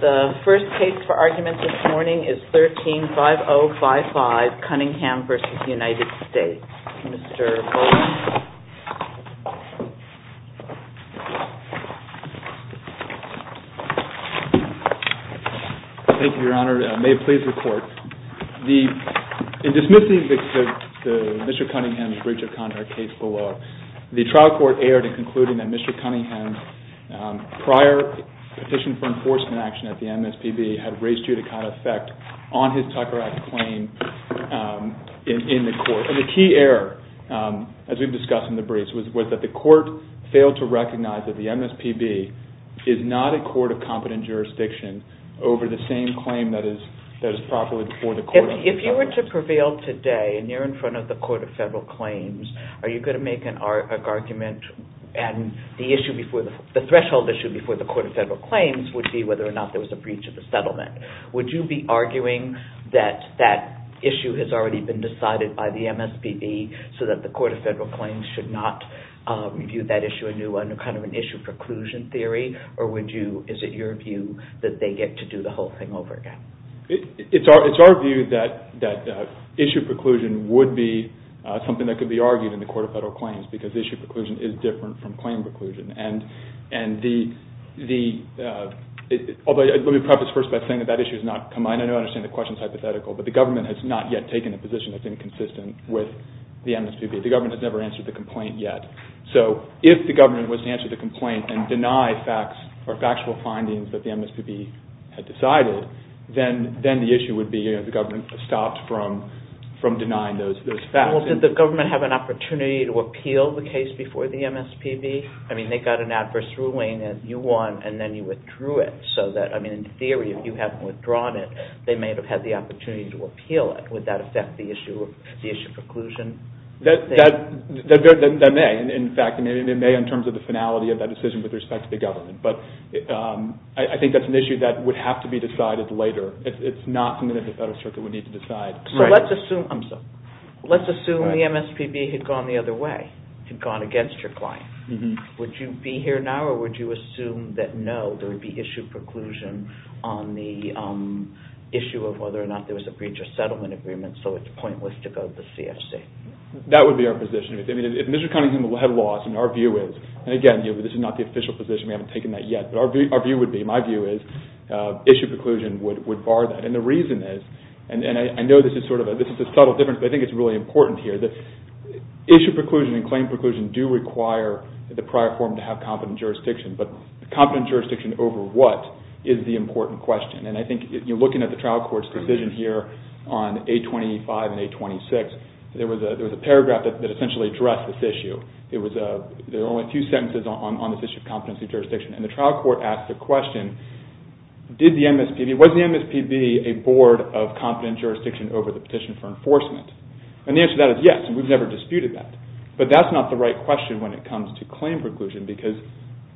The first case for argument this morning is 13-5055, Cunningham v. United States. Mr. Bowling. Thank you, Your Honor. May it please the Court. In dismissing Mr. Cunningham's breach of contract case below, the trial court erred in concluding that Mr. Cunningham's prior petition for enforcement action at the MSPB had raised judicata effect on his Tucker Act claim in the court. And the key error, as we've discussed in the briefs, was that the court failed to recognize that the MSPB is not a court of competent jurisdiction over the same claim that is properly before the court of jurisdiction. If this prevailed today and you're in front of the Court of Federal Claims, are you going to make an argument and the threshold issue before the Court of Federal Claims would be whether or not there was a breach of the settlement. Would you be arguing that that issue has already been decided by the MSPB so that the Court of Federal Claims should not review that issue anew under kind of an issue preclusion theory, or is it your view that they get to do the whole thing over again? It's our view that issue preclusion would be something that could be argued in the Court of Federal Claims because issue preclusion is different from claim preclusion. And the – although let me preface first by saying that that issue has not come – I know I understand the question is hypothetical, but the government has not yet taken a position that's inconsistent with the MSPB. The government has never answered the complaint yet. So if the government was to answer the complaint and deny facts or factual findings that the issue would be the government stopped from denying those facts. Well, did the government have an opportunity to appeal the case before the MSPB? I mean, they got an adverse ruling and you won and then you withdrew it. So that, I mean, in theory, if you haven't withdrawn it, they may have had the opportunity to appeal it. Would that affect the issue of – the issue of preclusion? That may. In fact, it may in terms of the finality of that decision with respect to the government. But I think that's an issue that would have to be decided later. It's not something that the Federal Circuit would need to decide. So let's assume – I'm sorry. Let's assume the MSPB had gone the other way, had gone against your client. Would you be here now or would you assume that no, there would be issue preclusion on the issue of whether or not there was a breach of settlement agreement so it's pointless to go to the CFC? That would be our position. I mean, if Mr. Cunningham had lost, and our view is – and again, this is not the official position. We haven't taken that yet. But our view would be – my view is issue preclusion would bar that. And the reason is – and I know this is sort of a – this is a subtle difference, but I think it's really important here. Issue preclusion and claim preclusion do require the prior form to have competent jurisdiction, but competent jurisdiction over what is the important question. And I think looking at the trial court's decision here on 825 and 826, there was a paragraph that essentially addressed this issue. It was a – there were only a few sentences on this issue of competency jurisdiction. And the trial court asked the question, did the MSPB – was the MSPB a board of competent jurisdiction over the petition for enforcement? And the answer to that is yes, and we've never disputed that. But that's not the right question when it comes to claim preclusion because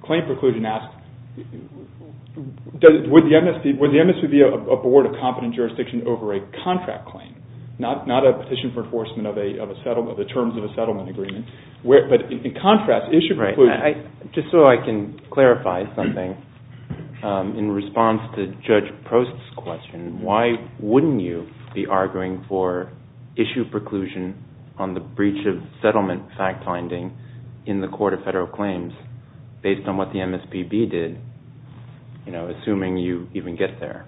claim preclusion asks, would the MSPB be a board of competent jurisdiction over a contract claim, not a petition for enforcement of a settlement agreement. But in contrast, issue preclusion – Right. Just so I can clarify something, in response to Judge Prost's question, why wouldn't you be arguing for issue preclusion on the breach of settlement fact-finding in the Court of Federal Claims based on what the MSPB did, you know, assuming you even get there?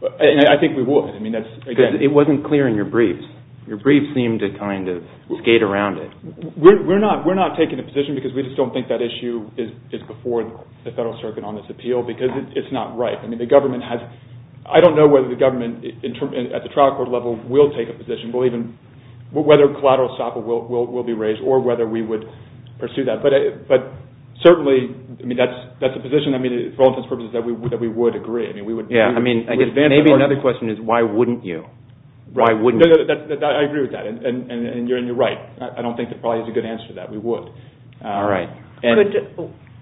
I think we would. I mean, that's – Because it wasn't clear in your briefs. Your briefs seemed to kind of skate around it. We're not – we're not taking a position because we just don't think that issue is before the Federal Circuit on this appeal because it's not right. I mean, the government has – I don't know whether the government at the trial court level will take a position, will even – whether collateral stop will be raised or whether we would pursue that. But certainly, I mean, that's a position, I mean, for all intents and purposes, that we would agree. I mean, we would – Yeah, I mean, I guess maybe another question is why wouldn't you? Why wouldn't you? No, no, I agree with that, and you're right. I don't think there probably is a good answer to that. We would. All right.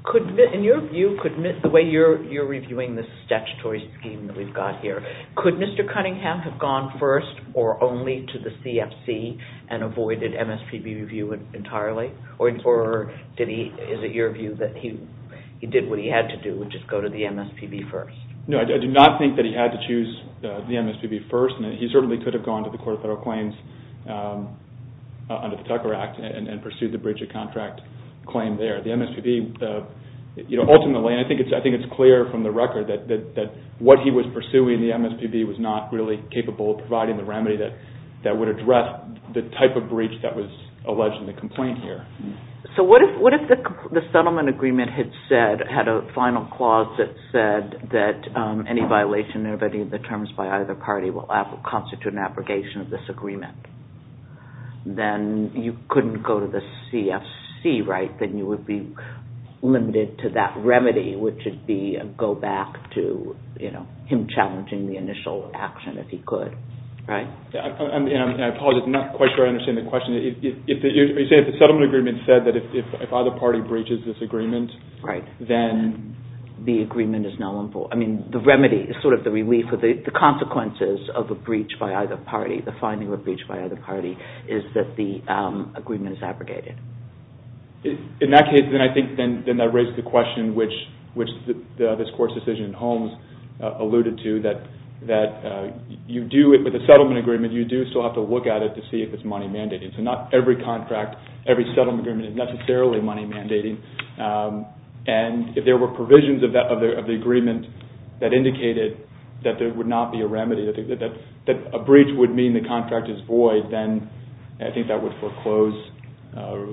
Could – in your view, the way you're reviewing this statutory scheme that we've got here, could Mr. Cunningham have gone first or only to the CFC and avoided MSPB review entirely? Or did he – is it your view that he did what he had to do, which is go to the MSPB first? No, I do not think that he had to choose the MSPB first, and he certainly could have gone to the Court of Federal Claims under the Tucker Act and pursued the breach of contract claim there. The MSPB, you know, ultimately – and I think it's clear from the record that what he was pursuing in the MSPB was not really capable of providing the remedy that would address the type of breach that was alleged in the complaint here. So what if the settlement agreement had said – had a final clause that said that any violation of any of the terms by either party will constitute an abrogation of this agreement? Then you couldn't go to the CFC, right? Then you would be limited to that remedy, which would be a go-back to, you know, him challenging the initial action if he could, right? And I apologize, I'm not quite sure I understand the question. Are you saying if the settlement agreement said that if either party breaches this agreement, then the agreement is null and void? I mean, the remedy is sort of the relief or the consequences of a breach by either party, the finding of a breach by either party, is that the agreement is abrogated. In that case, then I think that raises the question, which this Court's decision in that you do – with a settlement agreement, you do still have to look at it to see if it's money mandating. So not every contract, every settlement agreement is necessarily money mandating. And if there were provisions of the agreement that indicated that there would not be a remedy, that a breach would mean the contract is void, then I think that would foreclose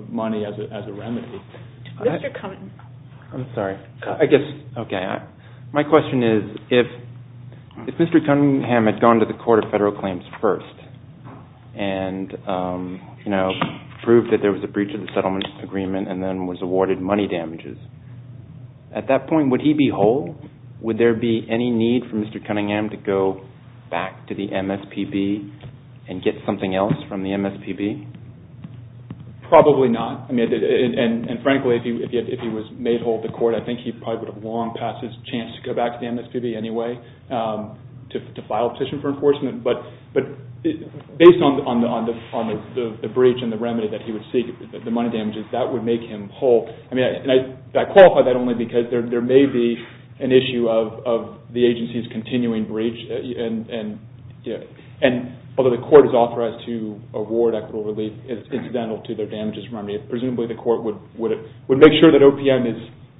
money as a remedy. Mr. Cunningham. I'm sorry. I guess – okay. My question is, if Mr. Cunningham had gone to the Court of Federal Claims first and, you know, proved that there was a breach of the settlement agreement and then was awarded money damages, at that point, would he be whole? Would there be any need for Mr. Cunningham to go back to the MSPB and get something else from the MSPB? Probably not. And frankly, if he was made whole at the Court, I think he probably would have long passed his chance to go back to the MSPB anyway to file a petition for enforcement. But based on the breach and the remedy that he would seek, the money damages, that would make him whole. And I qualify that only because there may be an issue of the agency's continuing breach. And although the Court is authorized to award equitable relief, it's incidental to their damages remedy. Presumably the Court would make sure that OPM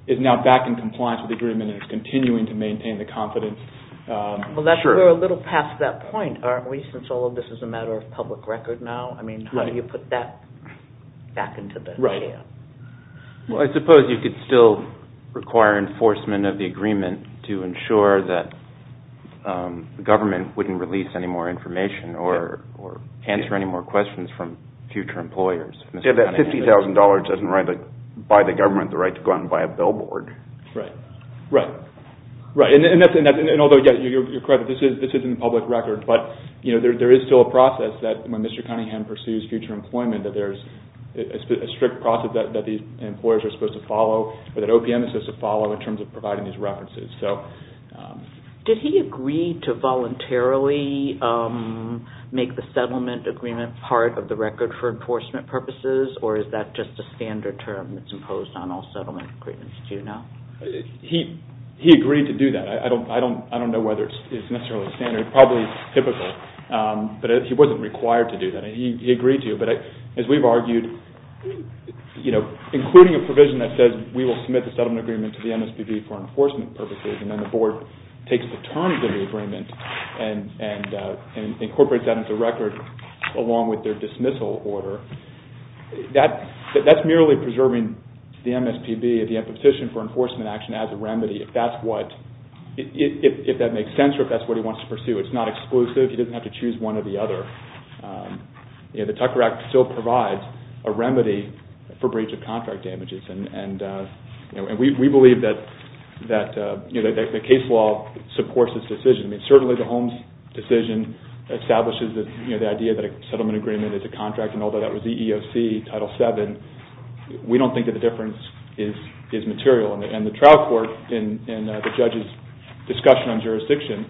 is now back in compliance with the agreement and is continuing to maintain the confidence. Well, we're a little past that point, aren't we, since all of this is a matter of public record now? I mean, how do you put that back into the – Well, I suppose you could still require enforcement of the agreement to ensure that the government wouldn't release any more information or answer any more questions from future employers. Yeah, that $50,000 doesn't buy the government the right to go out and buy a billboard. Right. And although, yeah, you're correct, this isn't public record, but there is still a process that when Mr. Cunningham pursues future employment that there's a strict process that the employers are supposed to follow or that OPM is supposed to follow in terms of providing these references. Did he agree to voluntarily make the settlement agreement part of the record for enforcement purposes, or is that just a standard term that's imposed on all settlement agreements now? He agreed to do that. I don't know whether it's necessarily standard. It's probably typical, but he wasn't required to do that. He agreed to, but as we've argued, including a provision that says we will submit the settlement agreement to the MSPB for enforcement purposes and then the board takes the terms of the agreement and incorporates that into the record along with their dismissal order, that's merely preserving the MSPB, the imposition for enforcement action as a remedy if that makes sense or if that's what he wants to pursue. It's not exclusive. He doesn't have to choose one or the other. The Tucker Act still provides a remedy for breach of contract damages, and we believe that the case law supports this decision. I mean, certainly the Holmes decision establishes the idea that a settlement agreement is a contract, and although that was the EEOC Title VII, we don't think that the difference is material, and the trial court in the judge's discussion on jurisdiction,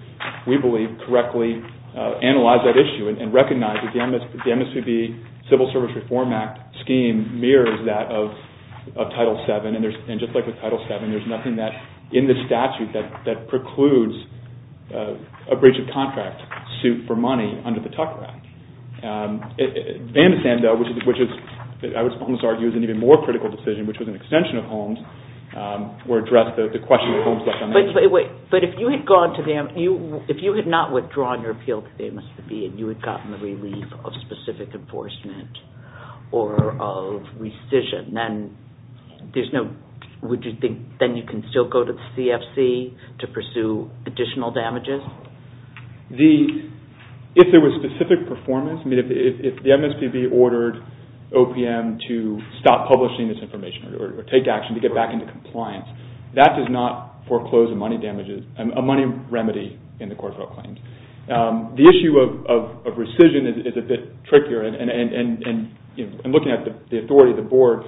we believe, correctly analyzed that issue and recognized that the MSPB Civil Service Reform Act scheme mirrors that of Title VII, and just like with Title VII, there's nothing in the statute that precludes a breach of contract suit for money under the Tucker Act. Vandisanda, which I would almost argue is an even more critical decision, which was an extension of Holmes, would address the question of Holmes-like damages. But if you had gone to the MSPB, if you had not withdrawn your appeal to the MSPB and you had gotten the relief of specific enforcement or of rescission, then would you think then you can still go to the CFC to pursue additional damages? Of course. If there was specific performance, I mean, if the MSPB ordered OPM to stop publishing this information or take action to get back into compliance, that does not foreclose a money remedy in the court of oath claims. The issue of rescission is a bit trickier, and looking at the authority of the board,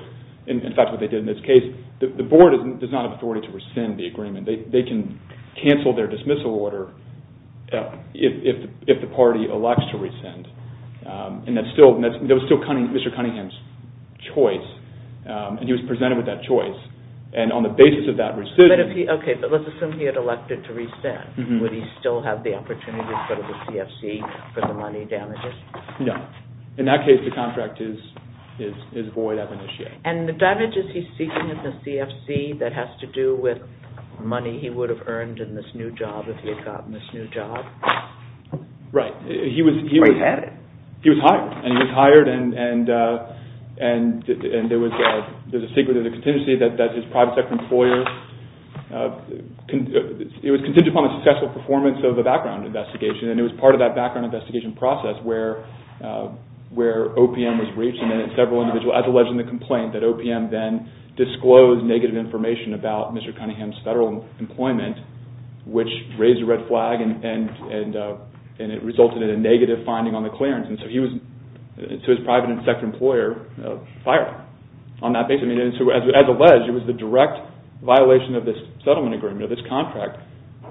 in fact, what they did in this case, the board does not have authority to rescind the agreement. They can cancel their dismissal order if the party elects to rescind, and that's still Mr. Cunningham's choice, and he was presented with that choice, and on the basis of that rescission... Okay, but let's assume he had elected to rescind. Would he still have the opportunity to go to the CFC for the money damages? No. In that case, the contract is void as an issue. And the damages he's seeking at the CFC that has to do with money he would have earned in this new job if he had gotten this new job? Right. He was... Or he had it? He was hired, and he was hired, and there's a secret of the contingency that his private sector employer... It was contingent upon the successful performance of the background investigation, and it was part of that background investigation process where OPM was reached, and then several individuals, as alleged in the complaint, that OPM then disclosed negative information about Mr. Cunningham's federal employment, which raised a red flag and it resulted in a negative finding on the clearance, and so he was, to his private sector employer, fired on that basis. I mean, as alleged, it was the direct violation of this settlement agreement, of this contract,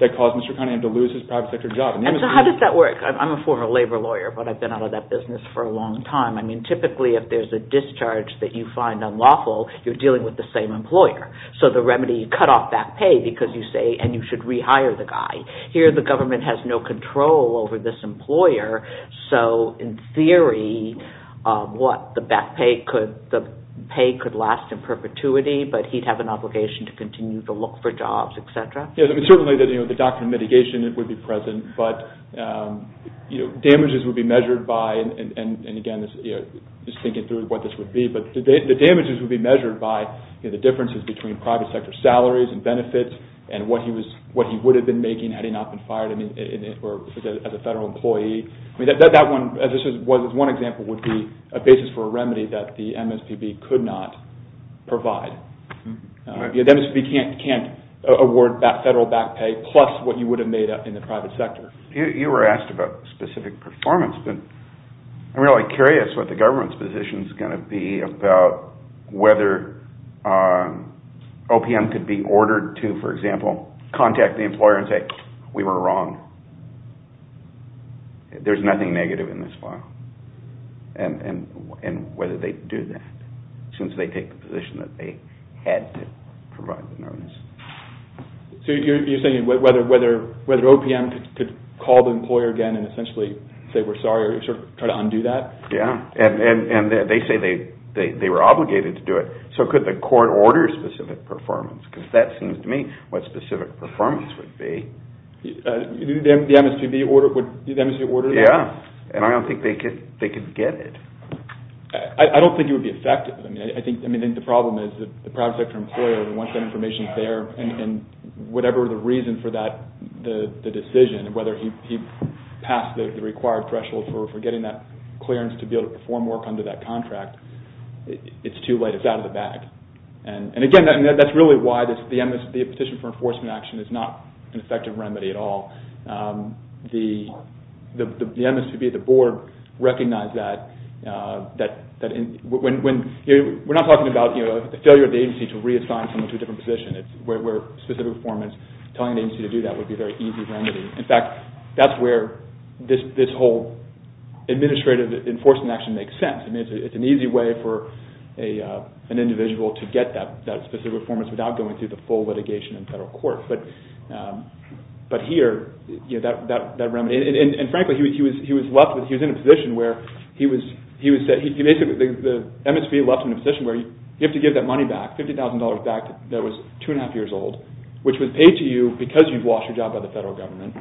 that caused Mr. Cunningham to lose his private sector job. And so how does that work? I'm a former labor lawyer, but I've been out of that business for a long time. I mean, typically, if there's a discharge that you find unlawful, you're dealing with the same employer. So the remedy, you cut off back pay because you say, and you should rehire the guy. Here, the government has no control over this employer, so in theory, what, the back pay could... The pay could last in perpetuity, but he'd have an obligation to continue to look for jobs, et cetera? Yeah, I mean, certainly the doctrine of mitigation would be present, but damages would be measured by, and again, just thinking through what this would be, but the damages would be measured by the differences between private sector salaries and benefits, and what he would have been making had he not been fired as a federal employee. I mean, that one, as one example, would be a basis for a remedy that the MSPB could not provide. The MSPB can't award that federal back pay, plus what you would have made up in the private sector. You were asked about specific performance, but I'm really curious what the government's position is going to be about whether OPM could be ordered to, for example, contact the employer and say, we were wrong. There's nothing negative in this file, and whether they'd do that, since they take the position that they had to provide the notice. So you're saying whether OPM could call the employer again and essentially say, we're sorry, or sort of try to undo that? Yeah, and they say they were obligated to do it, so could the court order specific performance? Because that seems to me what specific performance would be. Would the MSPB order that? Yeah, and I don't think they could get it. I don't think it would be effective. I mean, I think the problem is that the private sector employer, once that information's there, and whatever the reason for the decision, whether he passed the required threshold for getting that clearance to be able to perform work under that contract, it's too late. It's out of the bag. And again, that's really why the position for enforcement action is not an effective remedy at all. The MSPB, the board, recognized that. We're not talking about a failure of the agency to reassign someone to a different position. Where specific performance, telling the agency to do that would be a very easy remedy. In fact, that's where this whole administrative enforcement action makes sense. I mean, it's an easy way for an individual to get that specific performance without going through the full litigation in federal court. But here, that remedy, and frankly, he was left with, he was in a position where, he was basically, the MSPB left him in a position where you have to give that money back, $50,000 back that was two and a half years old, which was paid to you because you've lost your job by the federal government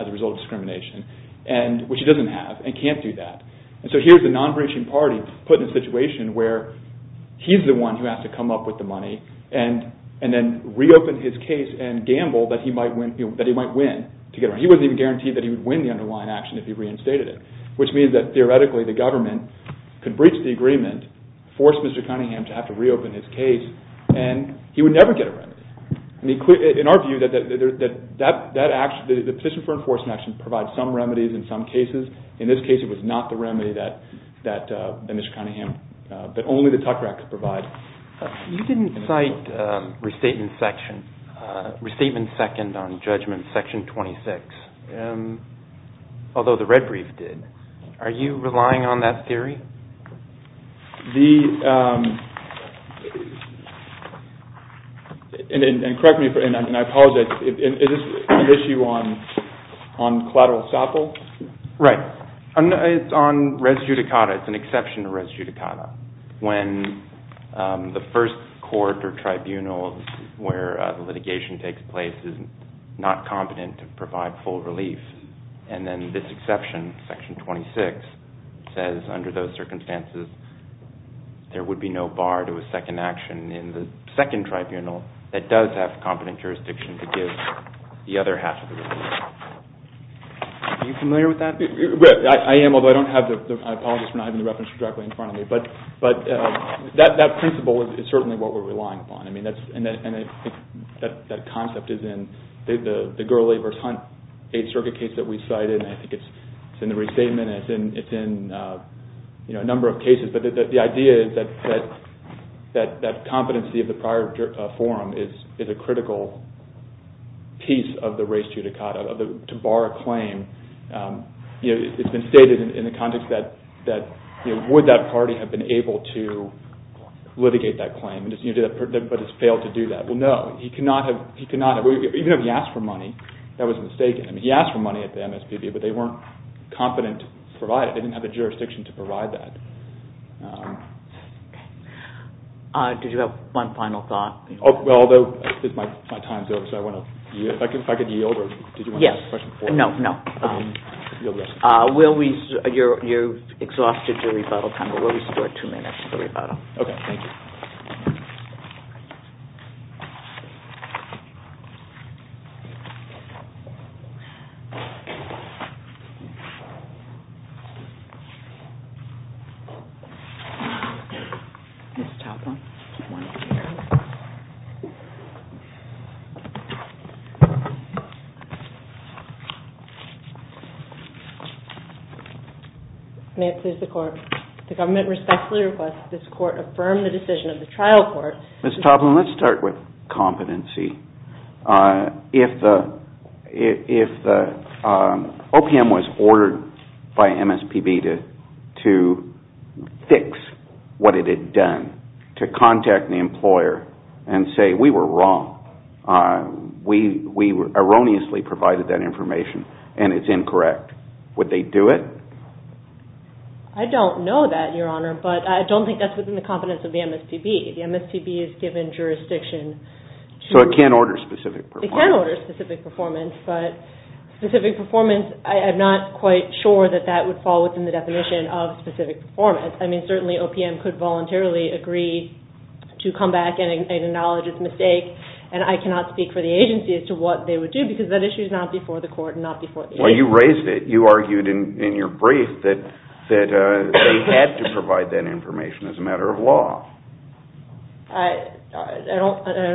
as a result of discrimination, which he doesn't have and can't do that. And so here's a non-breaching party put in a situation where he's the one who has to come up with the money and then reopen his case and gamble that he might win. He wasn't even guaranteed that he would win the underlying action if he reinstated it, which means that theoretically the government could breach the agreement, force Mr. Cunningham to have to reopen his case, and he would never get a remedy. In our view, the position for enforcement action provides some remedies in some cases. In this case, it was not the remedy that Mr. Cunningham, but only the tuck rack could provide. You didn't cite restatement second on judgment section 26, although the red brief did. Are you relying on that theory? The, and correct me, and I apologize, is this an issue on collateral escapades? Right. It's on res judicata. It's an exception to res judicata. When the first court or tribunal where litigation takes place is not competent to provide full relief, and then this exception, section 26, says under those circumstances there would be no bar to a second action in the second tribunal that does have competent jurisdiction to give the other half of the relief. Are you familiar with that? I am, although I don't have the, I apologize for not having the reference directly in front of me, but that principle is certainly what we're relying upon. I mean, that's, and I think that concept is in the Gurley v. Hunt Eighth Circuit case that we cited, and I think it's in the restatement and it's in, you know, a number of cases, but the idea is that competency of the prior forum is a critical piece of the res judicata, to bar a claim. You know, it's been stated in the context that, you know, would that party have been able to litigate that claim, but has failed to do that. Well, no, he could not have, even if he asked for money, that was mistaken. I mean, he asked for money at the MSPB, but they weren't competent to provide it. Okay. Did you have one final thought? Well, although my time's over, so I want to, if I could yield, or did you want to ask a question before? Yes, no, no. You're exhausted your rebuttal time, but we'll restore two minutes for rebuttal. Okay, thank you. Ms. Toplin. May it please the Court. The government respectfully requests that this Court affirm the decision of the trial court. Ms. Toplin, let's start with competency. If the OPM was ordered by MSPB to fix what it had done, to contact the employer and say, we were wrong, we erroneously provided that information, and it's incorrect, would they do it? I don't know that, Your Honor, but I don't think that's within the competence of the MSPB. The MSPB is given jurisdiction to So it can't order specific performance. It can't order specific performance, but specific performance, I'm not quite sure that that would fall within the definition of specific performance. I mean, certainly OPM could voluntarily agree to come back and acknowledge its mistake, and I cannot speak for the agency as to what they would do, because that issue is not before the Court and not before the agency. Well, you raised it. You argued in your brief that they had to provide that information as a matter of law. I'm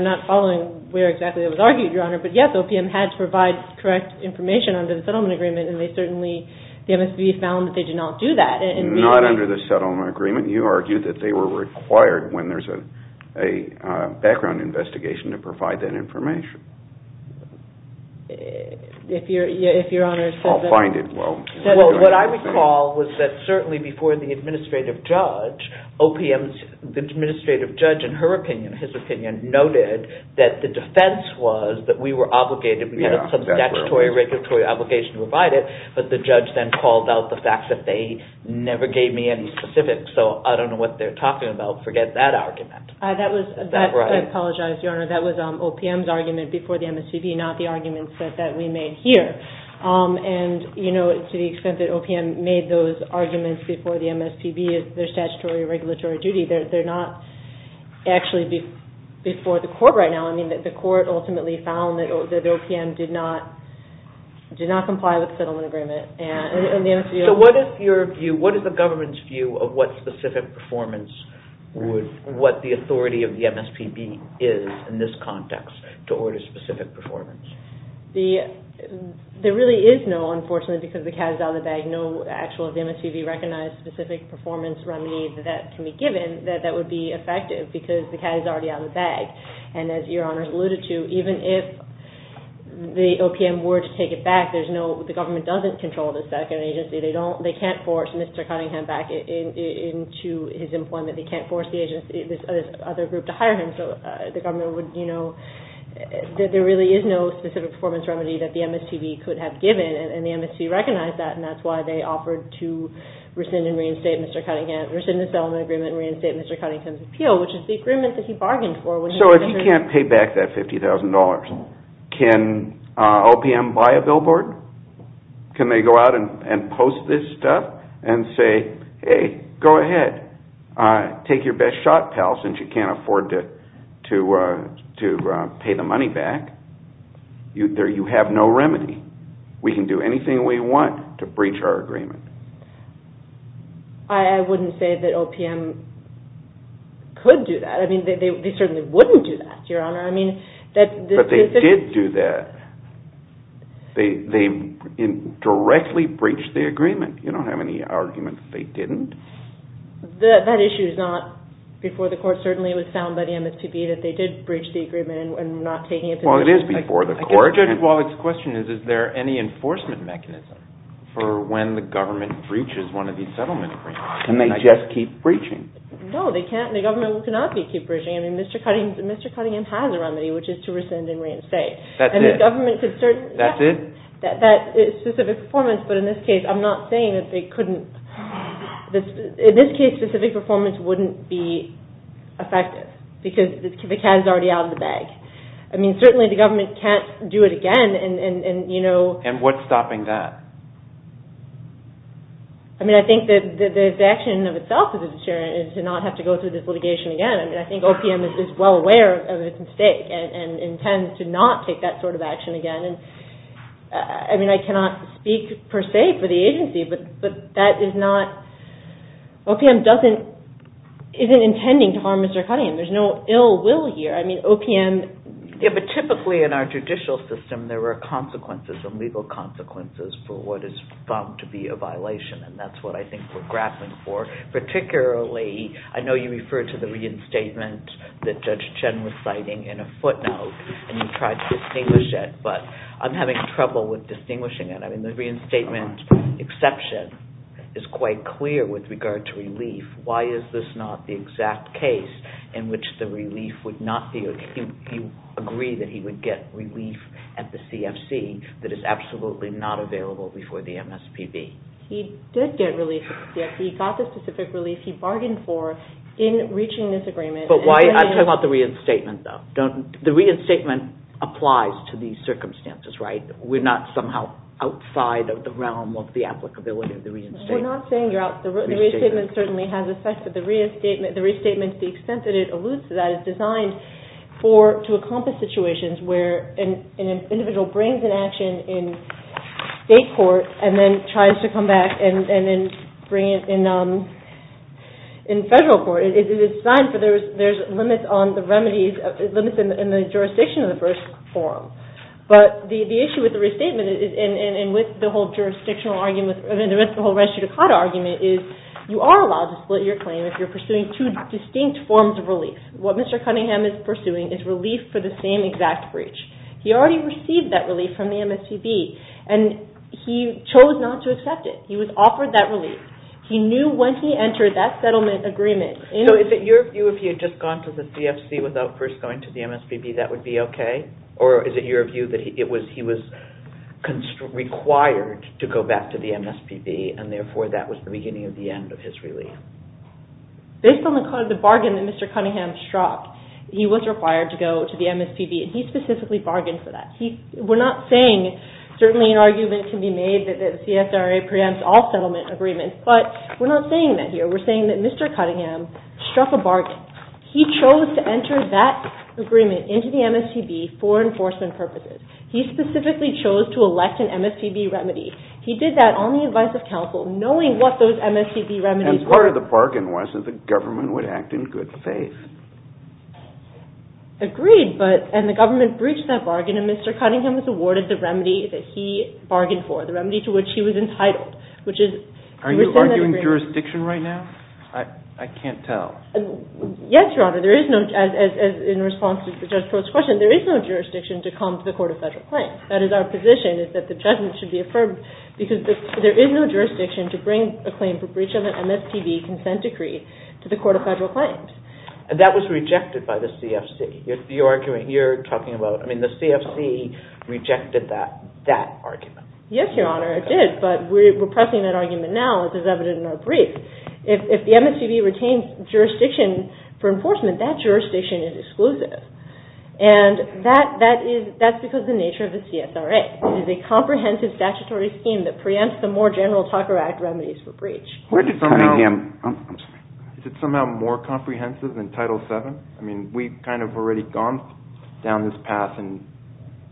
not following where exactly that was argued, Your Honor, but yes, OPM had to provide correct information under the settlement agreement, and they certainly, the MSPB found that they did not do that. Not under the settlement agreement. You argued that they were required when there's a background investigation to provide that information. If Your Honor says that I'll find it. Well, what I recall was that certainly before the administrative judge, OPM's administrative judge, in her opinion, his opinion, noted that the defense was that we were obligated, we had some statutory, regulatory obligation to provide it, but the judge then called out the fact that they never gave me any specifics, so I don't know what they're talking about. Forget that argument. That was, I apologize, Your Honor, that was OPM's argument before the MSPB, not the argument that we made here. And, you know, to the extent that OPM made those arguments before the MSPB, their statutory, regulatory duty, they're not actually before the court right now. I mean, the court ultimately found that OPM did not comply with the settlement agreement. So what is your view, what is the government's view of what specific performance would, what the authority of the MSPB is in this context to order specific performance? There really is no, unfortunately, because the cat is out of the bag, no actual MSPB-recognized specific performance remedy that can be given that would be effective, because the cat is already out of the bag. And as Your Honor's alluded to, even if the OPM were to take it back, there's no, the government doesn't control the second agency. They don't, they can't force Mr. Cunningham back into his employment. They can't force the agency, this other group, to hire him. So the government would, you know, there really is no specific performance remedy that the MSPB could have given, and the MSPB recognized that, and that's why they offered to rescind and reinstate Mr. Cunningham's, rescind the settlement agreement and reinstate Mr. Cunningham's appeal, which is the agreement that he bargained for. So if he can't pay back that $50,000, can OPM buy a billboard? Can they go out and post this stuff and say, hey, go ahead, take your best shot, pal, since you can't afford to pay the money back, you have no remedy. We can do anything we want to breach our agreement. I wouldn't say that OPM could do that. I mean, they certainly wouldn't do that, Your Honor. But they did do that. They indirectly breached the agreement. You don't have any argument that they didn't. That issue is not before the court. Certainly it was found by the MSPB that they did breach the agreement and were not taking it to the judge. Well, it is before the court. Judge Wallach's question is, is there any enforcement mechanism for when the government breaches one of these settlement agreements? Can they just keep breaching? No, they can't. The government cannot keep breaching. I mean, Mr. Cunningham has a remedy, which is to rescind and reinstate. That's it? That's it? That specific performance, but in this case, I'm not saying that they couldn't. In this case, specific performance wouldn't be effective because the cat is already out of the bag. I mean, certainly the government can't do it again. And what's stopping that? I mean, I think that the action in and of itself is a deterrent, is to not have to go through this litigation again. I mean, I think OPM is well aware of its mistake and intends to not take that sort of action again. I mean, I cannot speak per se for the agency, but OPM isn't intending to harm Mr. Cunningham. There's no ill will here. Yeah, but typically in our judicial system, there are consequences and legal consequences for what is found to be a violation, and that's what I think we're grappling for. Particularly, I know you referred to the reinstatement that Judge Chen was citing in a footnote, and you tried to distinguish it, but I'm having trouble with distinguishing it. I mean, the reinstatement exception is quite clear with regard to relief. Why is this not the exact case in which the relief would not be? You agree that he would get relief at the CFC that is absolutely not available before the MSPB. He did get relief at the CFC. He got the specific relief he bargained for in reaching this agreement. I'm talking about the reinstatement, though. The reinstatement applies to these circumstances, right? We're not somehow outside of the realm of the applicability of the reinstatement. We're not saying you're out. The reinstatement certainly has effects. The reinstatement, to the extent that it alludes to that, is designed to accomplish situations where an individual brings an action in state court and then tries to come back and then bring it in federal court. It is designed for those limits on the remedies, limits in the jurisdiction of the first forum. But the issue with the restatement and with the whole jurisdictional argument, the whole res judicata argument, is you are allowed to split your claim if you're pursuing two distinct forms of relief. What Mr. Cunningham is pursuing is relief for the same exact breach. He already received that relief from the MSPB and he chose not to accept it. He was offered that relief. He knew when he entered that settlement agreement... So is it your view if he had just gone to the CFC without first going to the MSPB, that would be okay? Or is it your view that he was required to go back to the MSPB and therefore that was the beginning of the end of his relief? Based on the bargain that Mr. Cunningham struck, he was required to go to the MSPB and he specifically bargained for that. We're not saying, certainly an argument can be made that the CSRA preempts all settlement agreements, but we're not saying that here. We're saying that Mr. Cunningham struck a bargain. He chose to enter that agreement into the MSPB for enforcement purposes. He specifically chose to elect an MSPB remedy. He did that on the advice of counsel, knowing what those MSPB remedies were. And part of the bargain was that the government would act in good faith. Agreed, but... And the government breached that bargain and Mr. Cunningham was awarded the remedy that he bargained for, the remedy to which he was entitled, which is... Are you arguing jurisdiction right now? I can't tell. Yes, Your Honor, there is no... In response to the judge's first question, there is no jurisdiction to come to the Court of Federal Claims. That is, our position is that the judgment should be affirmed because there is no jurisdiction to bring a claim for breach of an MSPB consent decree to the Court of Federal Claims. That was rejected by the CFC. The argument you're talking about... I mean, the CFC rejected that argument. Yes, Your Honor, it did, but we're pressing that argument now, as is evident in our brief. If the MSPB retains jurisdiction for enforcement, that jurisdiction is exclusive. And that's because of the nature of the CSRA. It is a comprehensive statutory scheme that preempts the more general Tucker Act remedies for breach. Where did Cunningham... Is it somehow more comprehensive than Title VII? I mean, we've kind of already gone down this path and...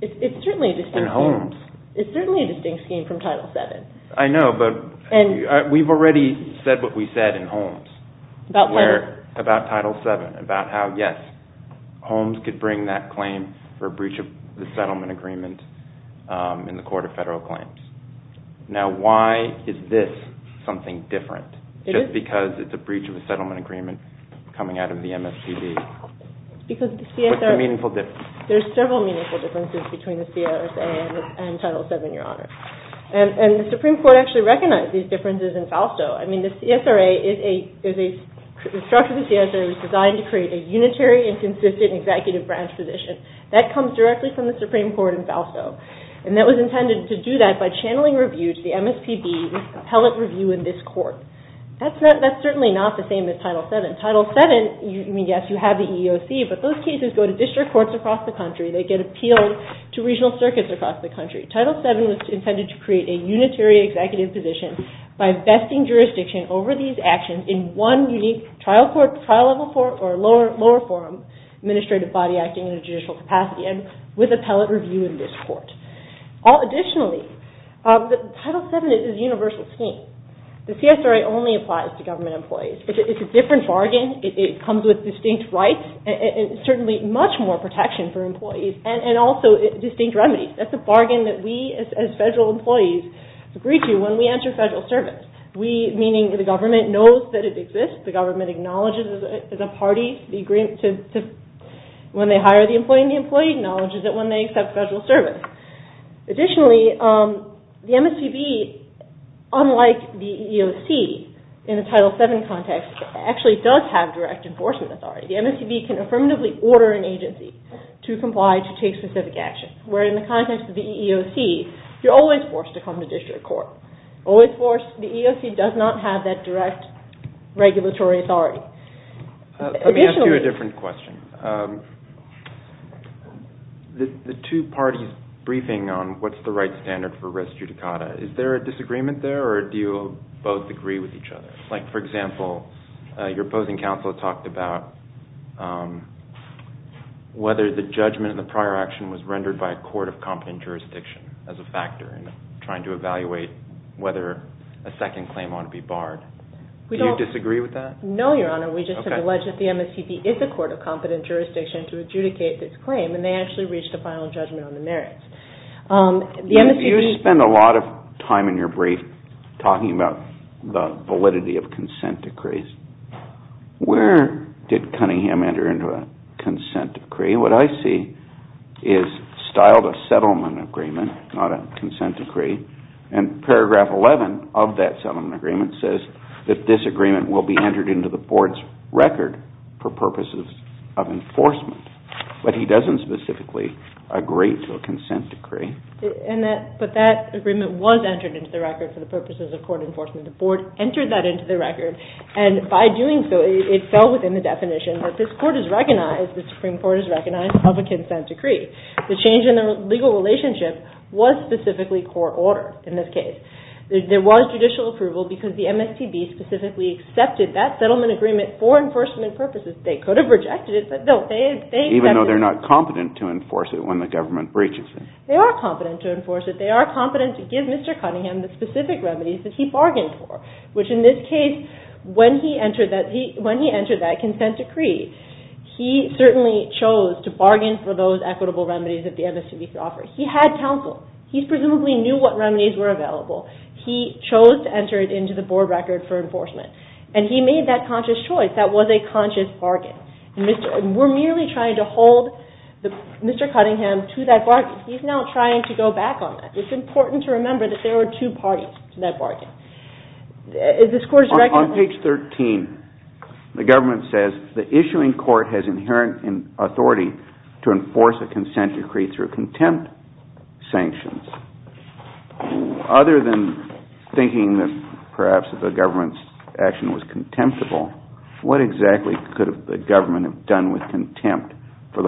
It's certainly a distinct scheme. And Holmes. It's certainly a distinct scheme from Title VII. I know, but we've already said what we said in Holmes. About what? About Title VII. About how, yes, Holmes could bring that claim for breach of the settlement agreement in the Court of Federal Claims. Now, why is this something different? It is. Just because it's a breach of a settlement agreement coming out of the MSPB. Because the CSRA... What's the meaningful difference? There's several meaningful differences between the CSRA and Title VII, Your Honor. And the Supreme Court actually recognized these differences in Fausto. I mean, the CSRA is a... The structure of the CSRA was designed to create a unitary and consistent executive branch position. That comes directly from the Supreme Court in Fausto. And that was intended to do that by channeling review to the MSPB with appellate review in this court. That's certainly not the same as Title VII. Title VII, I mean, yes, you have the EEOC, but those cases go to district courts across the country. They get appealed to regional circuits across the country. Title VII was intended to create a unitary executive position by vesting jurisdiction over these actions in one unique trial court, trial-level court, or lower forum administrative body acting in a judicial capacity and with appellate review in this court. Additionally, Title VII is a universal scheme. The CSRA only applies to government employees. It's a different bargain. It comes with distinct rights and certainly much more protection for employees and also distinct remedies. That's a bargain that we as federal employees agree to when we enter federal service. We, meaning the government, knows that it exists. The government acknowledges it as a party. When they hire the employee, the employee acknowledges it when they accept federal service. Additionally, the MSPB, unlike the EEOC, in the Title VII context, actually does have direct enforcement authority. The MSPB can affirmatively order an agency to comply to take specific actions, where in the context of the EEOC, you're always forced to come to district court. Always forced. The EEOC does not have that direct regulatory authority. Let me ask you a different question. The two parties briefing on what's the right standard for res judicata, is there a disagreement there or do you both agree with each other? For example, your opposing counsel talked about whether the judgment in the prior action was rendered by a court of competent jurisdiction as a factor in trying to evaluate whether a second claim ought to be barred. Do you disagree with that? No, Your Honor. We just have alleged that the MSPB is a court of competent jurisdiction to adjudicate this claim and they actually reached a final judgment on the merits. You spend a lot of time in your brief talking about the validity of consent decrees. Where did Cunningham enter into a consent decree? What I see is styled a settlement agreement, not a consent decree. Paragraph 11 of that settlement agreement says that this agreement will be entered into the board's record for purposes of enforcement. But he doesn't specifically agree to a consent decree. But that agreement was entered into the record for the purposes of court enforcement. The board entered that into the record and by doing so it fell within the definition that this Supreme Court has recognized of a consent decree. The change in the legal relationship was specifically court-ordered in this case. There was judicial approval because the MSPB specifically accepted that settlement agreement for enforcement purposes. They could have rejected it. Even though they're not competent to enforce it when the government breaches it. They are competent to enforce it. They are competent to give Mr. Cunningham the specific remedies that he bargained for, which in this case, when he entered that consent decree, he certainly chose to bargain for those equitable remedies that the MSPB could offer. He had counsel. He presumably knew what remedies were available. He chose to enter it into the board record for enforcement. And he made that conscious choice. That was a conscious bargain. We're merely trying to hold Mr. Cunningham to that bargain. He's now trying to go back on that. It's important to remember that there are two parties to that bargain. On page 13, the government says, the issuing court has inherent authority to enforce a consent decree through contempt sanctions. Other than thinking that perhaps the government's action was contemptible, what exactly could the government have done with contempt for,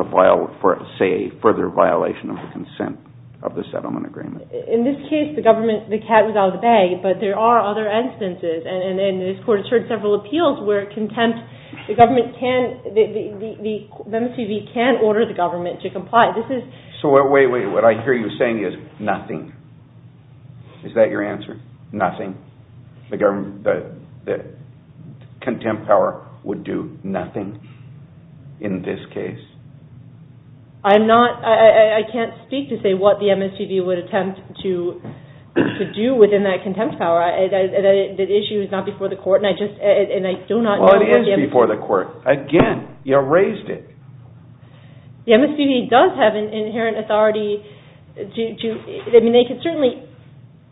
say, a further violation of the consent of the settlement agreement? In this case, the government, the cat was out of the bag, but there are other instances, and this court has heard several appeals where contempt, the government can, the MSPB can order the government to comply. So wait, wait, what I hear you saying is nothing. Is that your answer? Nothing? The contempt power would do nothing in this case? I'm not, I can't speak to say what the MSPB would attempt to do within that contempt power. That issue is not before the court, and I just, and I do not know what the MSPB... Well, it is before the court. Again, you raised it. The MSPB does have an inherent authority to, I mean, they can certainly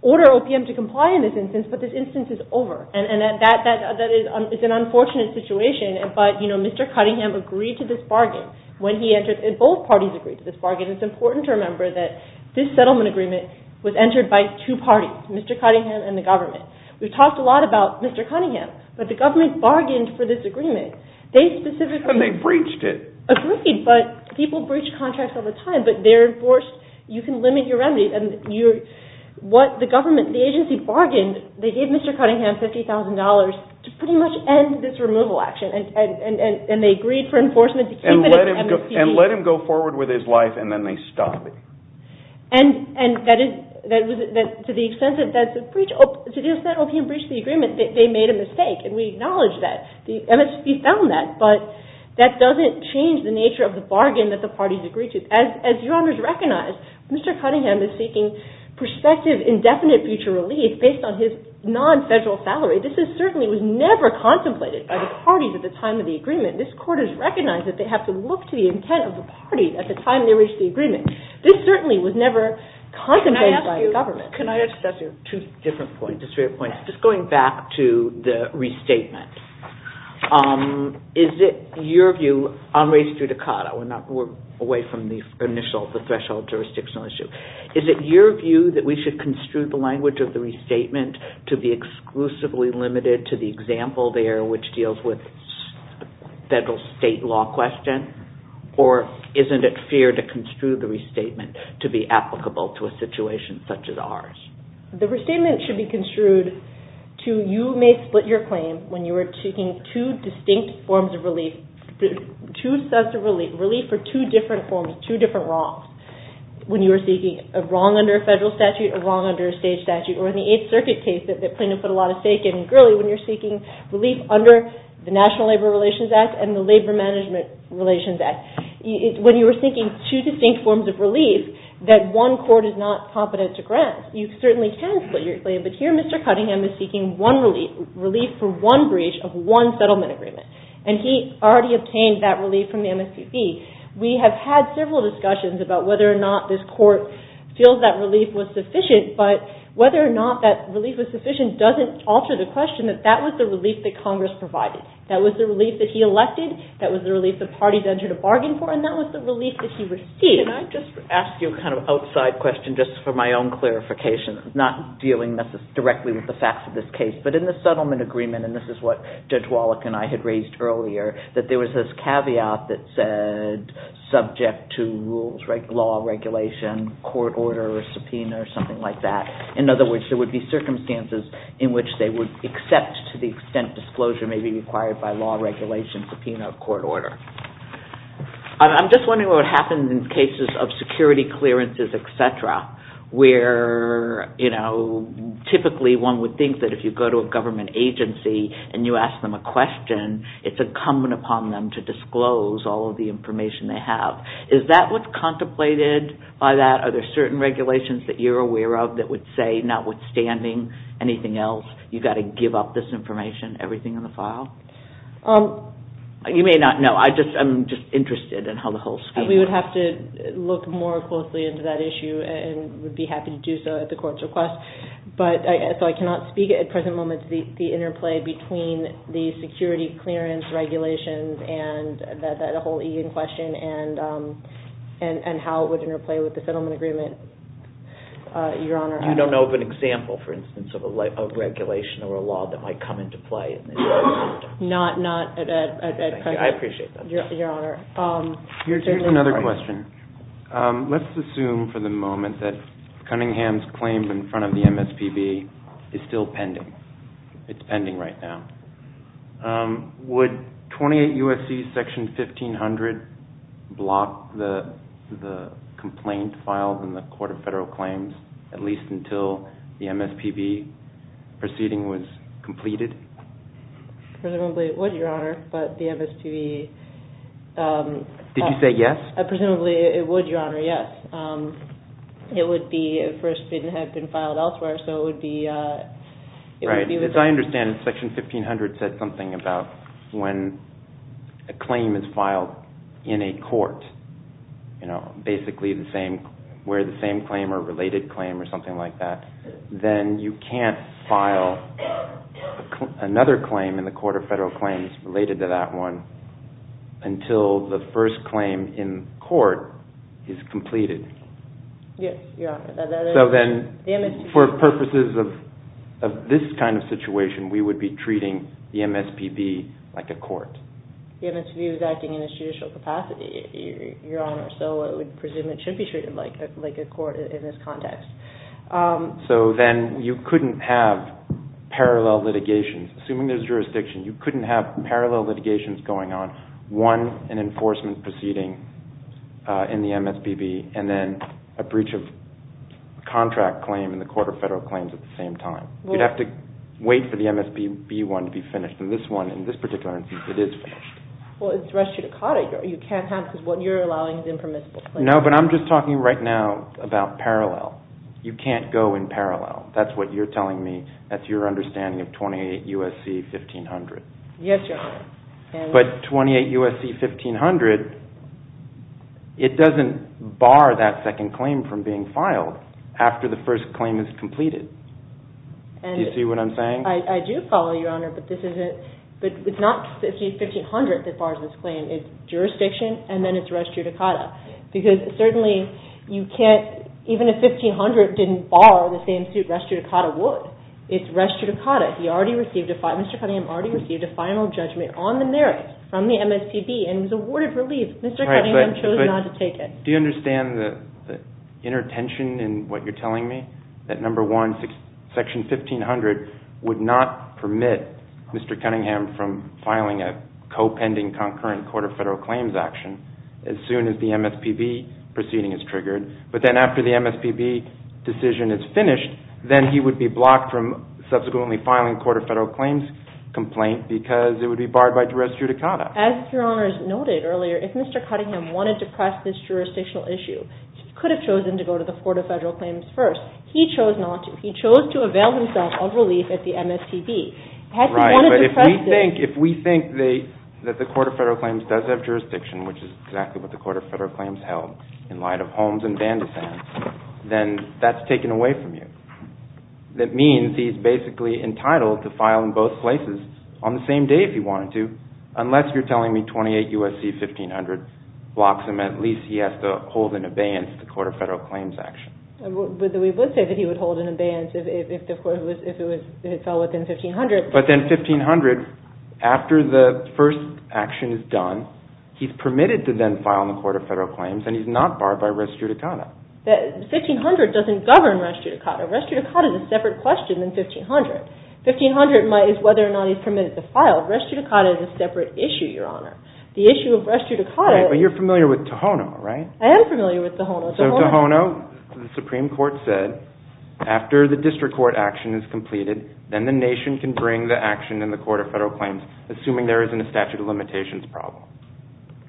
order OPM to comply in this instance, but this instance is over, and that is an unfortunate situation, but, you know, Mr. Cunningham agreed to this bargain when he entered, and both parties agreed to this bargain. It's important to remember that this settlement agreement was entered by two parties, Mr. Cunningham and the government. We've talked a lot about Mr. Cunningham, but the government bargained for this agreement. They specifically... And they breached it. Agreed, but people breach contracts all the time, but they're enforced, you can limit your remedies, and what the government, the agency bargained, they gave Mr. Cunningham $50,000 to pretty much end this removal action, and they agreed for enforcement to keep it at the MSPB. And let him go forward with his life, and then they stopped it. And that is, to the extent that the breach, to the extent that OPM breached the agreement, they made a mistake, and we acknowledge that. The MSPB found that, but that doesn't change the nature of the bargain that the parties agreed to. As Your Honors recognize, Mr. Cunningham is seeking prospective indefinite future relief based on his non-federal salary. This is certainly, was never contemplated by the parties at the time of the agreement. This Court has recognized that they have to look to the intent of the party at the time they reached the agreement. This certainly was never contemplated by the government. Can I ask you, can I ask you two different points, two different points. Just going back to the restatement, is it your view, on race judicata, we're not, we're away from the initial, the threshold jurisdictional issue. Is it your view that we should construe the language of the restatement to be exclusively limited to the example there, which deals with federal state law question? Or isn't it fair to construe the restatement to be applicable to a situation such as ours? The restatement should be construed to, you may split your claim when you are seeking two distinct forms of relief, two sets of relief, relief for two different forms, two different wrongs. When you are seeking a wrong under a federal statute, a wrong under a state statute, or in the Eighth Circuit case that Plano put a lot of stake in, when you're seeking relief under the National Labor Relations Act and the Labor Management Relations Act. When you are seeking two distinct forms of relief that one court is not competent to grant, you certainly can split your claim, but here Mr. Cunningham is seeking one relief, relief for one breach of one settlement agreement. And he already obtained that relief from the MSPP. We have had several discussions about whether or not this court feels that relief was sufficient, but whether or not that relief was sufficient doesn't alter the question that that was the relief that Congress provided. That was the relief that he elected, that was the relief the parties entered a bargain for, and that was the relief that he received. Can I just ask you a kind of outside question just for my own clarification, not dealing directly with the facts of this case, but in the settlement agreement, and this is what Judge Wallach and I had raised earlier, that there was this caveat that said subject to rules, law, regulation, court order or subpoena or something like that. In other words, there would be circumstances in which they would accept to the extent disclosure may be required by law, regulation, subpoena or court order. I'm just wondering what would happen in cases of security clearances, et cetera, where typically one would think that if you go to a government agency and you ask them a question, it's incumbent upon them to disclose all of the information they have. Is that what's contemplated by that? Are there certain regulations that you're aware of that would say notwithstanding anything else, you've got to give up this information, everything in the file? You may not know. I'm just interested in how the whole scheme works. We would have to look more closely into that issue and would be happy to do so at the court's request. So I cannot speak at present moment to the interplay between the security clearance regulations and that whole Egan question and how it would interplay with the settlement agreement, Your Honor. You don't know of an example, for instance, of a regulation or a law that might come into play? Not at present. I appreciate that. Your Honor. Here's another question. Let's assume for the moment that Cunningham's claim in front of the MSPB is still pending. It's pending right now. Would 28 U.S.C. Section 1500 block the complaint filed in the Court of Federal Claims at least until the MSPB proceeding was completed? Presumably it would, Your Honor, but the MSPB... Did you say yes? Presumably it would, Your Honor, yes. It would be, at first, it didn't have been filed elsewhere, so it would be... Right. As I understand it, Section 1500 said something about when a claim is filed in a court, you know, basically the same, where the same claim or related claim or something like that, then you can't file another claim in the Court of Federal Claims related to that one until the first claim in court is completed. Yes, Your Honor. So then, for purposes of this kind of situation, we would be treating the MSPB like a court. The MSPB was acting in its judicial capacity, Your Honor, so I would presume it should be treated like a court in this context. So then you couldn't have parallel litigations. Assuming there's jurisdiction, you couldn't have parallel litigations going on, one, an enforcement proceeding in the MSPB, and then a breach of contract claim in the Court of Federal Claims at the same time. You'd have to wait for the MSPB one to be finished, and this one, in this particular instance, it is finished. Well, it's res judicata. You can't have, because what you're allowing is impermissible claims. No, but I'm just talking right now about parallel. You can't go in parallel. That's what you're telling me. That's your understanding of 28 U.S.C. 1500. Yes, Your Honor. But 28 U.S.C. 1500, it doesn't bar that second claim from being filed after the first claim is completed. Do you see what I'm saying? I do follow, Your Honor, but it's not the 1500 that bars this claim. It's jurisdiction, and then it's res judicata, because certainly you can't, even if 1500 didn't bar the same suit, res judicata would. It's res judicata. He already received, Mr. Cunningham already received a final judgment on the merits from the MSPB, and he was awarded relief. Mr. Cunningham chose not to take it. Do you understand the inner tension in what you're telling me? That, number one, section 1500 would not permit Mr. Cunningham from filing a co-pending concurrent court of federal claims action as soon as the MSPB proceeding is triggered, but then after the MSPB decision is finished, then he would be blocked from subsequently filing court of federal claims complaint because it would be barred by res judicata. As Your Honor has noted earlier, if Mr. Cunningham wanted to press this jurisdictional issue, he could have chosen to go to the court of federal claims first. He chose not to. He chose to avail himself of relief at the MSPB. Right, but if we think that the court of federal claims does have jurisdiction, which is exactly what the court of federal claims held in light of Holmes and Van de Sands, then that's taken away from you. That means he's basically entitled to file in both places on the same day if he wanted to, if 1500 blocks him, at least he has to hold an abeyance to the court of federal claims action. We would say that he would hold an abeyance if it fell within 1500. But then 1500, after the first action is done, he's permitted to then file in the court of federal claims and he's not barred by res judicata. 1500 doesn't govern res judicata. Res judicata is a separate question than 1500. 1500 is whether or not he's permitted to file. Res judicata is a separate issue, Your Honor. The issue of res judicata is... Right, but you're familiar with Tohono, right? I am familiar with Tohono. So Tohono, the Supreme Court said, after the district court action is completed, then the nation can bring the action in the court of federal claims, assuming there isn't a statute of limitations problem.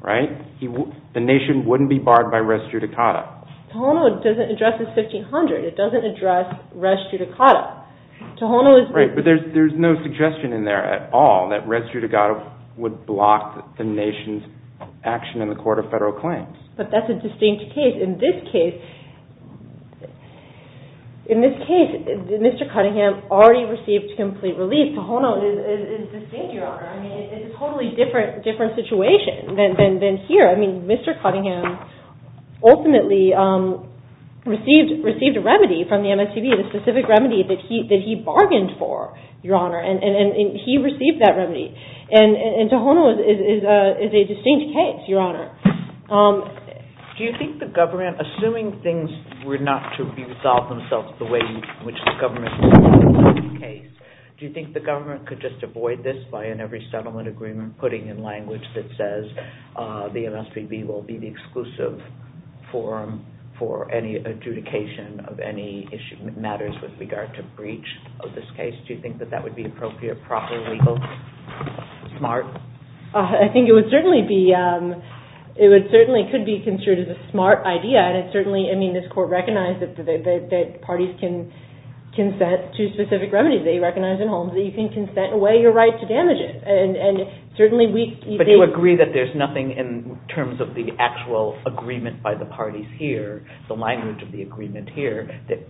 Right? The nation wouldn't be barred by res judicata. Tohono doesn't address 1500. It doesn't address res judicata. Tohono is... Right, but there's no suggestion in there at all that res judicata would block the nation's action in the court of federal claims. But that's a distinct case. In this case... In this case, Mr. Cunningham already received complete relief. Tohono is distinct, Your Honor. I mean, it's a totally different situation than here. I mean, Mr. Cunningham ultimately received a remedy the specific remedy that he bargained for, Your Honor, and he received that remedy. And Tohono is a distinct case, Your Honor. Do you think the government, assuming things were not to resolve themselves the way in which the government... Do you think the government could just avoid this by in every settlement agreement putting in language that says the MSPB will be the exclusive forum for any adjudication of any issue that matters with regard to breach of this case? Do you think that that would be appropriate, proper, legal, smart? I think it would certainly be... It certainly could be considered as a smart idea, and it certainly... I mean, this court recognized that parties can consent to specific remedies. They recognize in Holmes that you can consent away your right to damage it. And certainly we... But you agree that there's nothing in terms of the actual agreement by the parties here, the language of the agreement here, that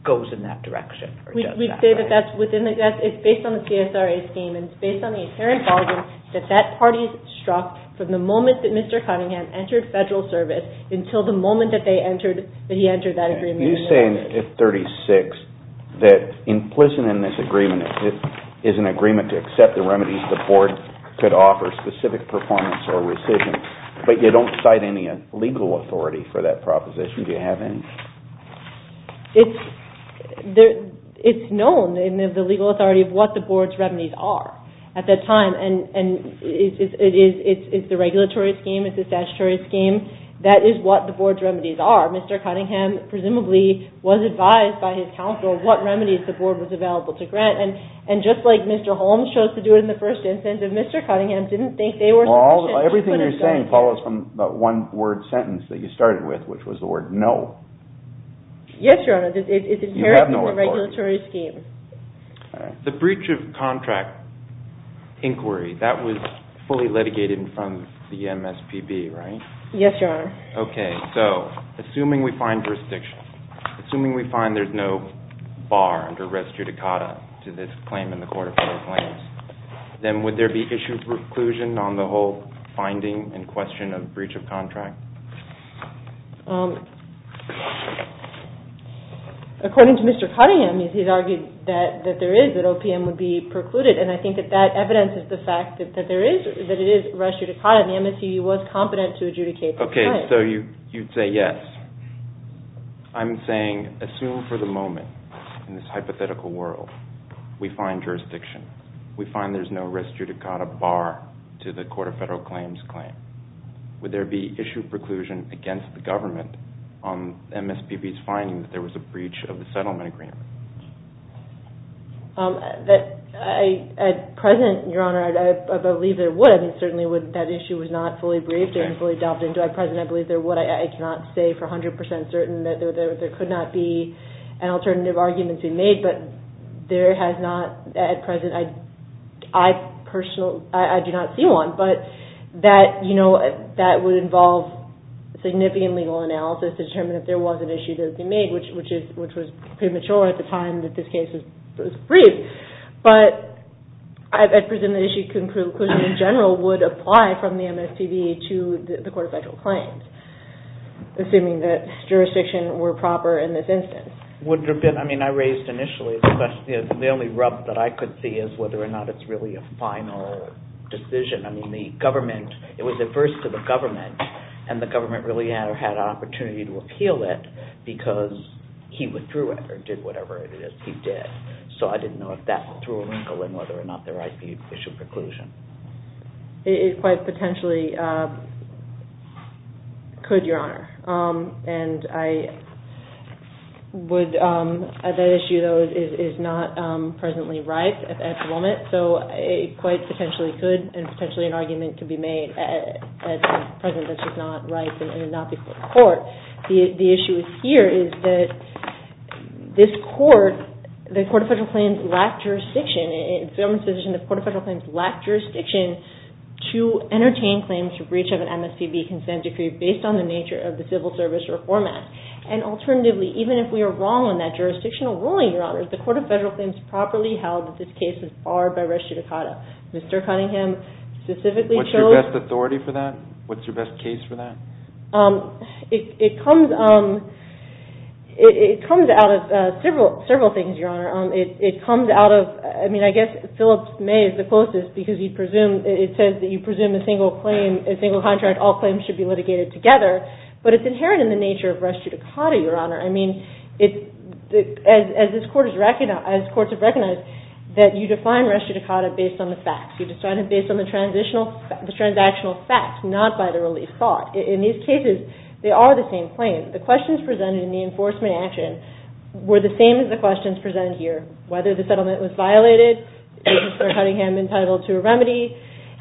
goes in that direction? We say that that's within the... It's based on the PSRA scheme, and it's based on the apparent bargain that that party struck from the moment that Mr. Cunningham entered federal service until the moment that they entered, that he entered that agreement. You say in 36 that implicit in this agreement is an agreement to accept the remedies the court could offer specific performance or rescission, but you don't cite any legal authority for that proposition. Do you have any? It's known in the legal authority of what the board's remedies are at that time, and it's the regulatory scheme, it's the statutory scheme. That is what the board's remedies are. Mr. Cunningham presumably was advised by his counsel what remedies the board was available to grant, and just like Mr. Holmes chose to do it in the first instance, if Mr. Cunningham didn't think they were sufficient... Everything you're saying follows from that one-word sentence that you started with, which was the word no. Yes, Your Honor. It's inherent in the regulatory scheme. The breach of contract inquiry, that was fully litigated in front of the MSPB, right? Yes, Your Honor. Okay, so assuming we find jurisdiction, assuming we find there's no bar under res judicata to this claim in the court of federal claims, then would there be issue preclusion on the whole finding and question of breach of contract? According to Mr. Cunningham, he's argued that there is, that OPM would be precluded, and I think that that evidences the fact that there is, that it is res judicata, and the MSPB was competent to adjudicate this claim. Okay, so you'd say yes. I'm saying assume for the moment, in this hypothetical world, we find jurisdiction, we find there's no res judicata bar to the court of federal claims claim, would there be issue preclusion against the government on MSPB's finding that there was a breach of the settlement agreement? At present, Your Honor, I believe there would. I mean, certainly that issue was not fully briefed and fully dealt with. At present, I believe there would. I cannot say for 100% certain that there could not be an alternative argument to be made, but there has not, at present, I personally, I do not see one, but that, you know, that would involve significant legal analysis to determine if there was an issue to be made, which was premature at the time that this case was briefed, but I presume that issue conclusion in general would apply from the MSPB to the court of federal claims, assuming that jurisdiction were proper in this instance. Would there have been, I mean, I raised initially, the only rub that I could see is whether or not it's really a final decision. I mean, the government, it was adverse to the government, and the government really had an opportunity to appeal it because he withdrew it or did whatever it is he did. So I didn't know if that threw a wrinkle in whether or not there might be an issue of conclusion. It quite potentially could, Your Honor, and I would, that issue, though, is not presently ripe at the moment, so it quite potentially could, and potentially an argument could be made at the present that's just not ripe, and it would not be for the court. The issue here is that this court, the court of federal claims lacked jurisdiction. In the government's position, the court of federal claims lacked jurisdiction to entertain claims to breach of an MSPB consent decree based on the nature of the civil service or format. And alternatively, even if we are wrong on that jurisdictional ruling, Your Honor, the court of federal claims properly held that this case was barred by res judicata. Mr. Cunningham specifically chose... What's your best authority for that? What's your best case for that? It comes out of several things, Your Honor. It comes out of, I mean, I guess, Phillips May is the closest because it says that you presume a single contract, all claims should be litigated together, but it's inherent in the nature of res judicata, Your Honor. I mean, as courts have recognized, that you define res judicata based on the facts. You decide it based on the transactional facts, not by the relief thought. In these cases, they are the same claims. The questions presented in the enforcement action were the same as the questions presented here, whether the settlement was violated, is Mr. Cunningham entitled to a remedy,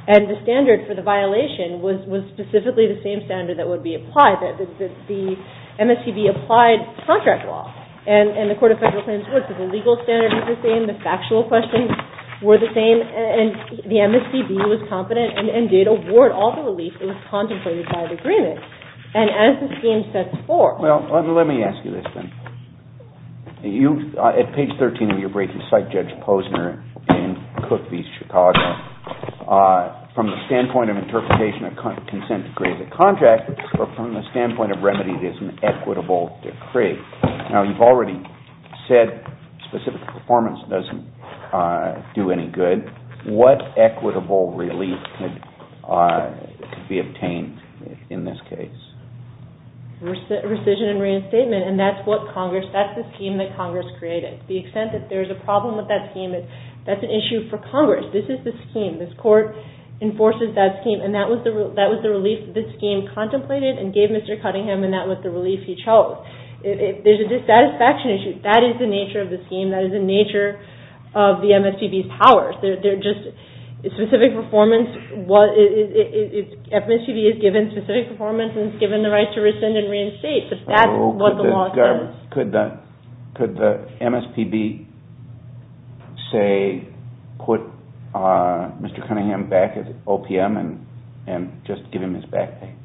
and the standard for the violation was specifically the same standard that would be applied, that the MSCB applied contract law. And the Court of Federal Claims works, so the legal standard is the same, the factual questions were the same, and the MSCB was confident and did award all the relief that was contemplated by the agreement. And as the scheme sets forth... Well, let me ask you this then. At page 13 of your brief, you cite Judge Posner in Cook v. Chicago. From the standpoint of interpretation a consent decree is a contract, but from the standpoint of remedy, it is an equitable decree. Now, you've already said specific performance doesn't do any good. What equitable relief could be obtained in this case? Rescission and reinstatement, and that's what Congress... That's the scheme that Congress created. The extent that there's a problem with that scheme, that's an issue for Congress. This is the scheme. This Court enforces that scheme, and that was the relief that this scheme contemplated and gave Mr. Cunningham, and that was the relief he chose. If there's a dissatisfaction issue, that is the nature of the scheme. That is the nature of the MSPB's powers. They're just specific performance. MSPB is given specific performance and is given the right to rescind and reinstate. That's what the law says. Could the MSPB say, put Mr. Cunningham back at OPM and just give him his back pay?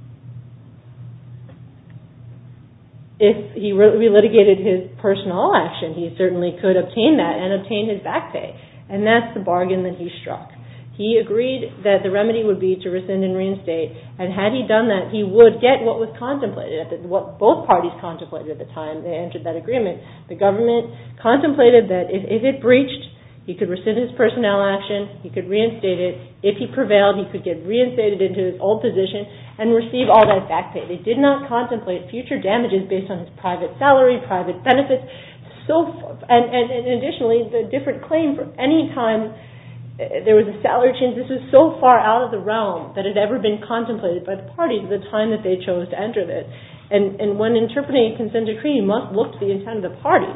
If he relitigated his personal action, he certainly could obtain that and obtain his back pay, and that's the bargain that he struck. He agreed that the remedy would be to rescind and reinstate, and had he done that, he would get what was contemplated, what both parties contemplated at the time they entered that agreement. The government contemplated that if it breached, he could rescind his personnel action, he could reinstate it. If he prevailed, he could get reinstated into his old position and receive all that back pay. They did not contemplate future damages based on his private salary, private benefits. Additionally, the different claim for any time there was a salary change, this was so far out of the realm that it had ever been contemplated by the parties at the time that they chose to enter this. When interpreting a consent decree, you must look to the intent of the party.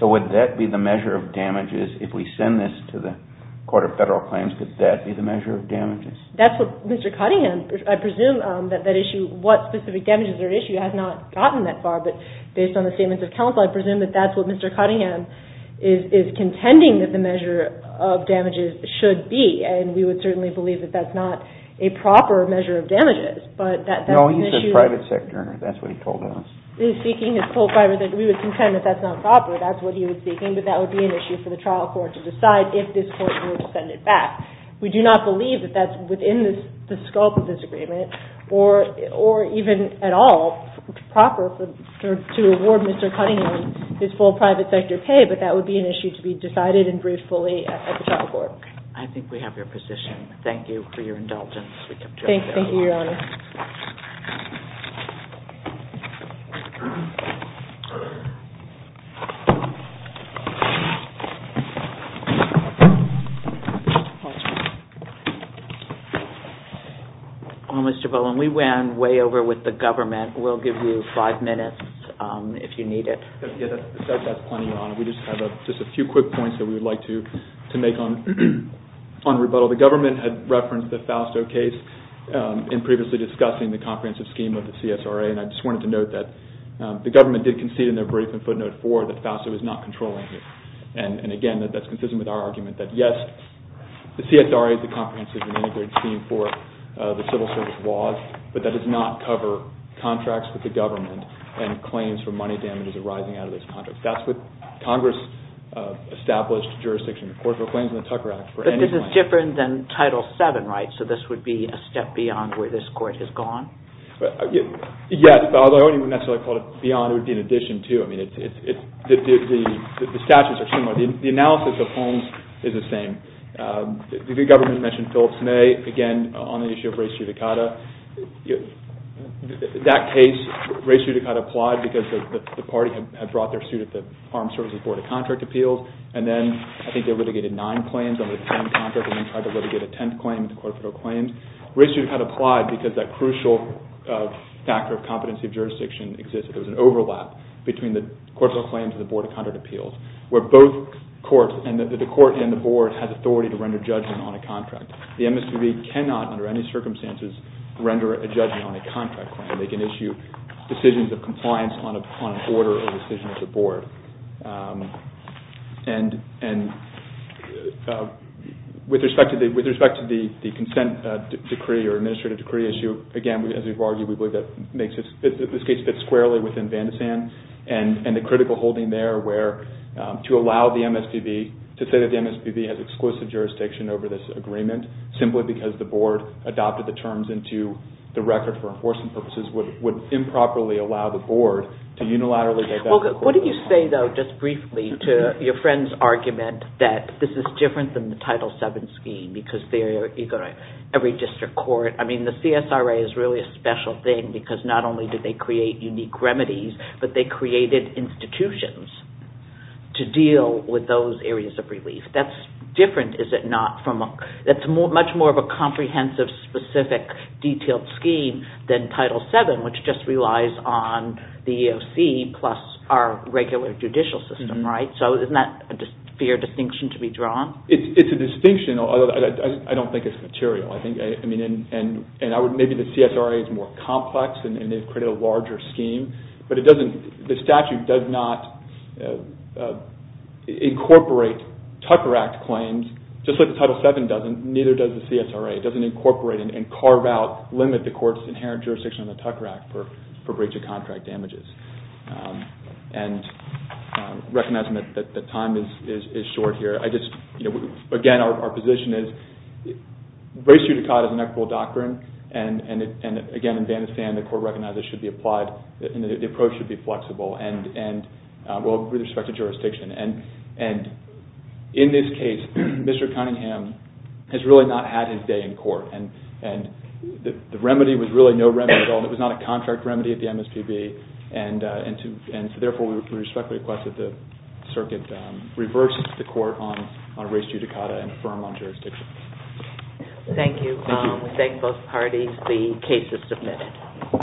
So would that be the measure of damages if we send this to the Court of Federal Claims, could that be the measure of damages? That's what Mr. Cottingham, I presume that that issue, what specific damages are at issue, has not gotten that far, but based on the statements of counsel, I presume that that's what Mr. Cottingham is contending that the measure of damages should be, and we would certainly believe that that's not a proper measure of damages, but that's an issue. No, he's a private sector, that's what he told us. We would contend that that's not proper, that's what he was seeking, but that would be an issue for the trial court to decide if this court were to send it back. We do not believe that that's within the scope of this agreement, or even at all proper to award Mr. Cottingham his full private sector pay, but that would be an issue to be decided and briefed fully at the trial court. I think we have your position. Thank you for your indulgence. Thank you, Your Honor. Thank you. Mr. Bowen, we ran way over with the government. We'll give you five minutes if you need it. That's plenty, Your Honor. We just have a few quick points that we would like to make on rebuttal. The government had referenced the Fausto case in previously discussing the comprehensive scheme with the CSRA, and I just wanted to note that the government did concede in their brief in footnote four that Fausto was not controlling it. And again, that's consistent with our argument that yes, the CSRA is a comprehensive and integrated scheme for the civil service laws, but that does not cover contracts with the government and claims for money damages arising out of those contracts. That's what Congress established jurisdiction. Of course, there are claims in the Tucker Act for any money. But this is different than Title VII, right? So this would be a step beyond where this court has gone? Yes, although I wouldn't necessarily call it beyond. It would be an addition, too. I mean, the statutes are similar. The analysis of Holmes is the same. The government mentioned Phillips May, again, on the issue of res judicata. That case, res judicata applied because the party had brought their suit at the Armed Services Board of Contract Appeals, and then I think they litigated nine claims under the 10 contract, and then tried to litigate a 10th claim with the court of federal claims. Res judicata applied because that crucial factor of competency of jurisdiction existed. There was an overlap between the court of claims and the Board of Contract Appeals, where both courts, and the court and the board, had authority to render judgment on a contract. The MSPB cannot, under any circumstances, render a judgment on a contract claim. They can issue decisions of compliance on an order or a decision at the board. And with respect to the consent decree or administrative decree issue, again, as we've argued, we believe that this case fits squarely within Vandisand and the critical holding there where to allow the MSPB to say that the MSPB has exclusive jurisdiction over this agreement simply because the board adopted the terms into the record for enforcement purposes would improperly allow the board to unilaterally... What do you say, though, just briefly, to your friend's argument that this is different than the Title VII scheme because every district court... I mean, the CSRA is really a special thing because not only did they create unique remedies, but they created institutions to deal with those areas of relief. That's different, is it not? That's much more of a comprehensive, specific, detailed scheme than Title VII, which just relies on the EEOC plus our regular judicial system, right? So isn't that a fair distinction to be drawn? It's a distinction, although I don't think it's material. I mean, maybe the CSRA is more complex and they've created a larger scheme, but the statute does not incorporate Tucker Act claims, just like the Title VII doesn't, neither does the CSRA. It doesn't incorporate and carve out, limit the court's inherent jurisdiction on the Tucker Act for breach of contract damages. And recognizing that time is short here, I just... Again, our position is race judicata is an equitable doctrine and, again, in Vanderstand, the court recognizes it should be applied and the approach should be flexible with respect to jurisdiction. And in this case, Mr. Cunningham has really not had his day in court and the remedy was really no remedy at all. It was not a contract remedy at the MSPB and, therefore, we respectfully request that the circuit reverses the court on race judicata and affirm on jurisdiction. Thank you. We thank both parties. The case is submitted.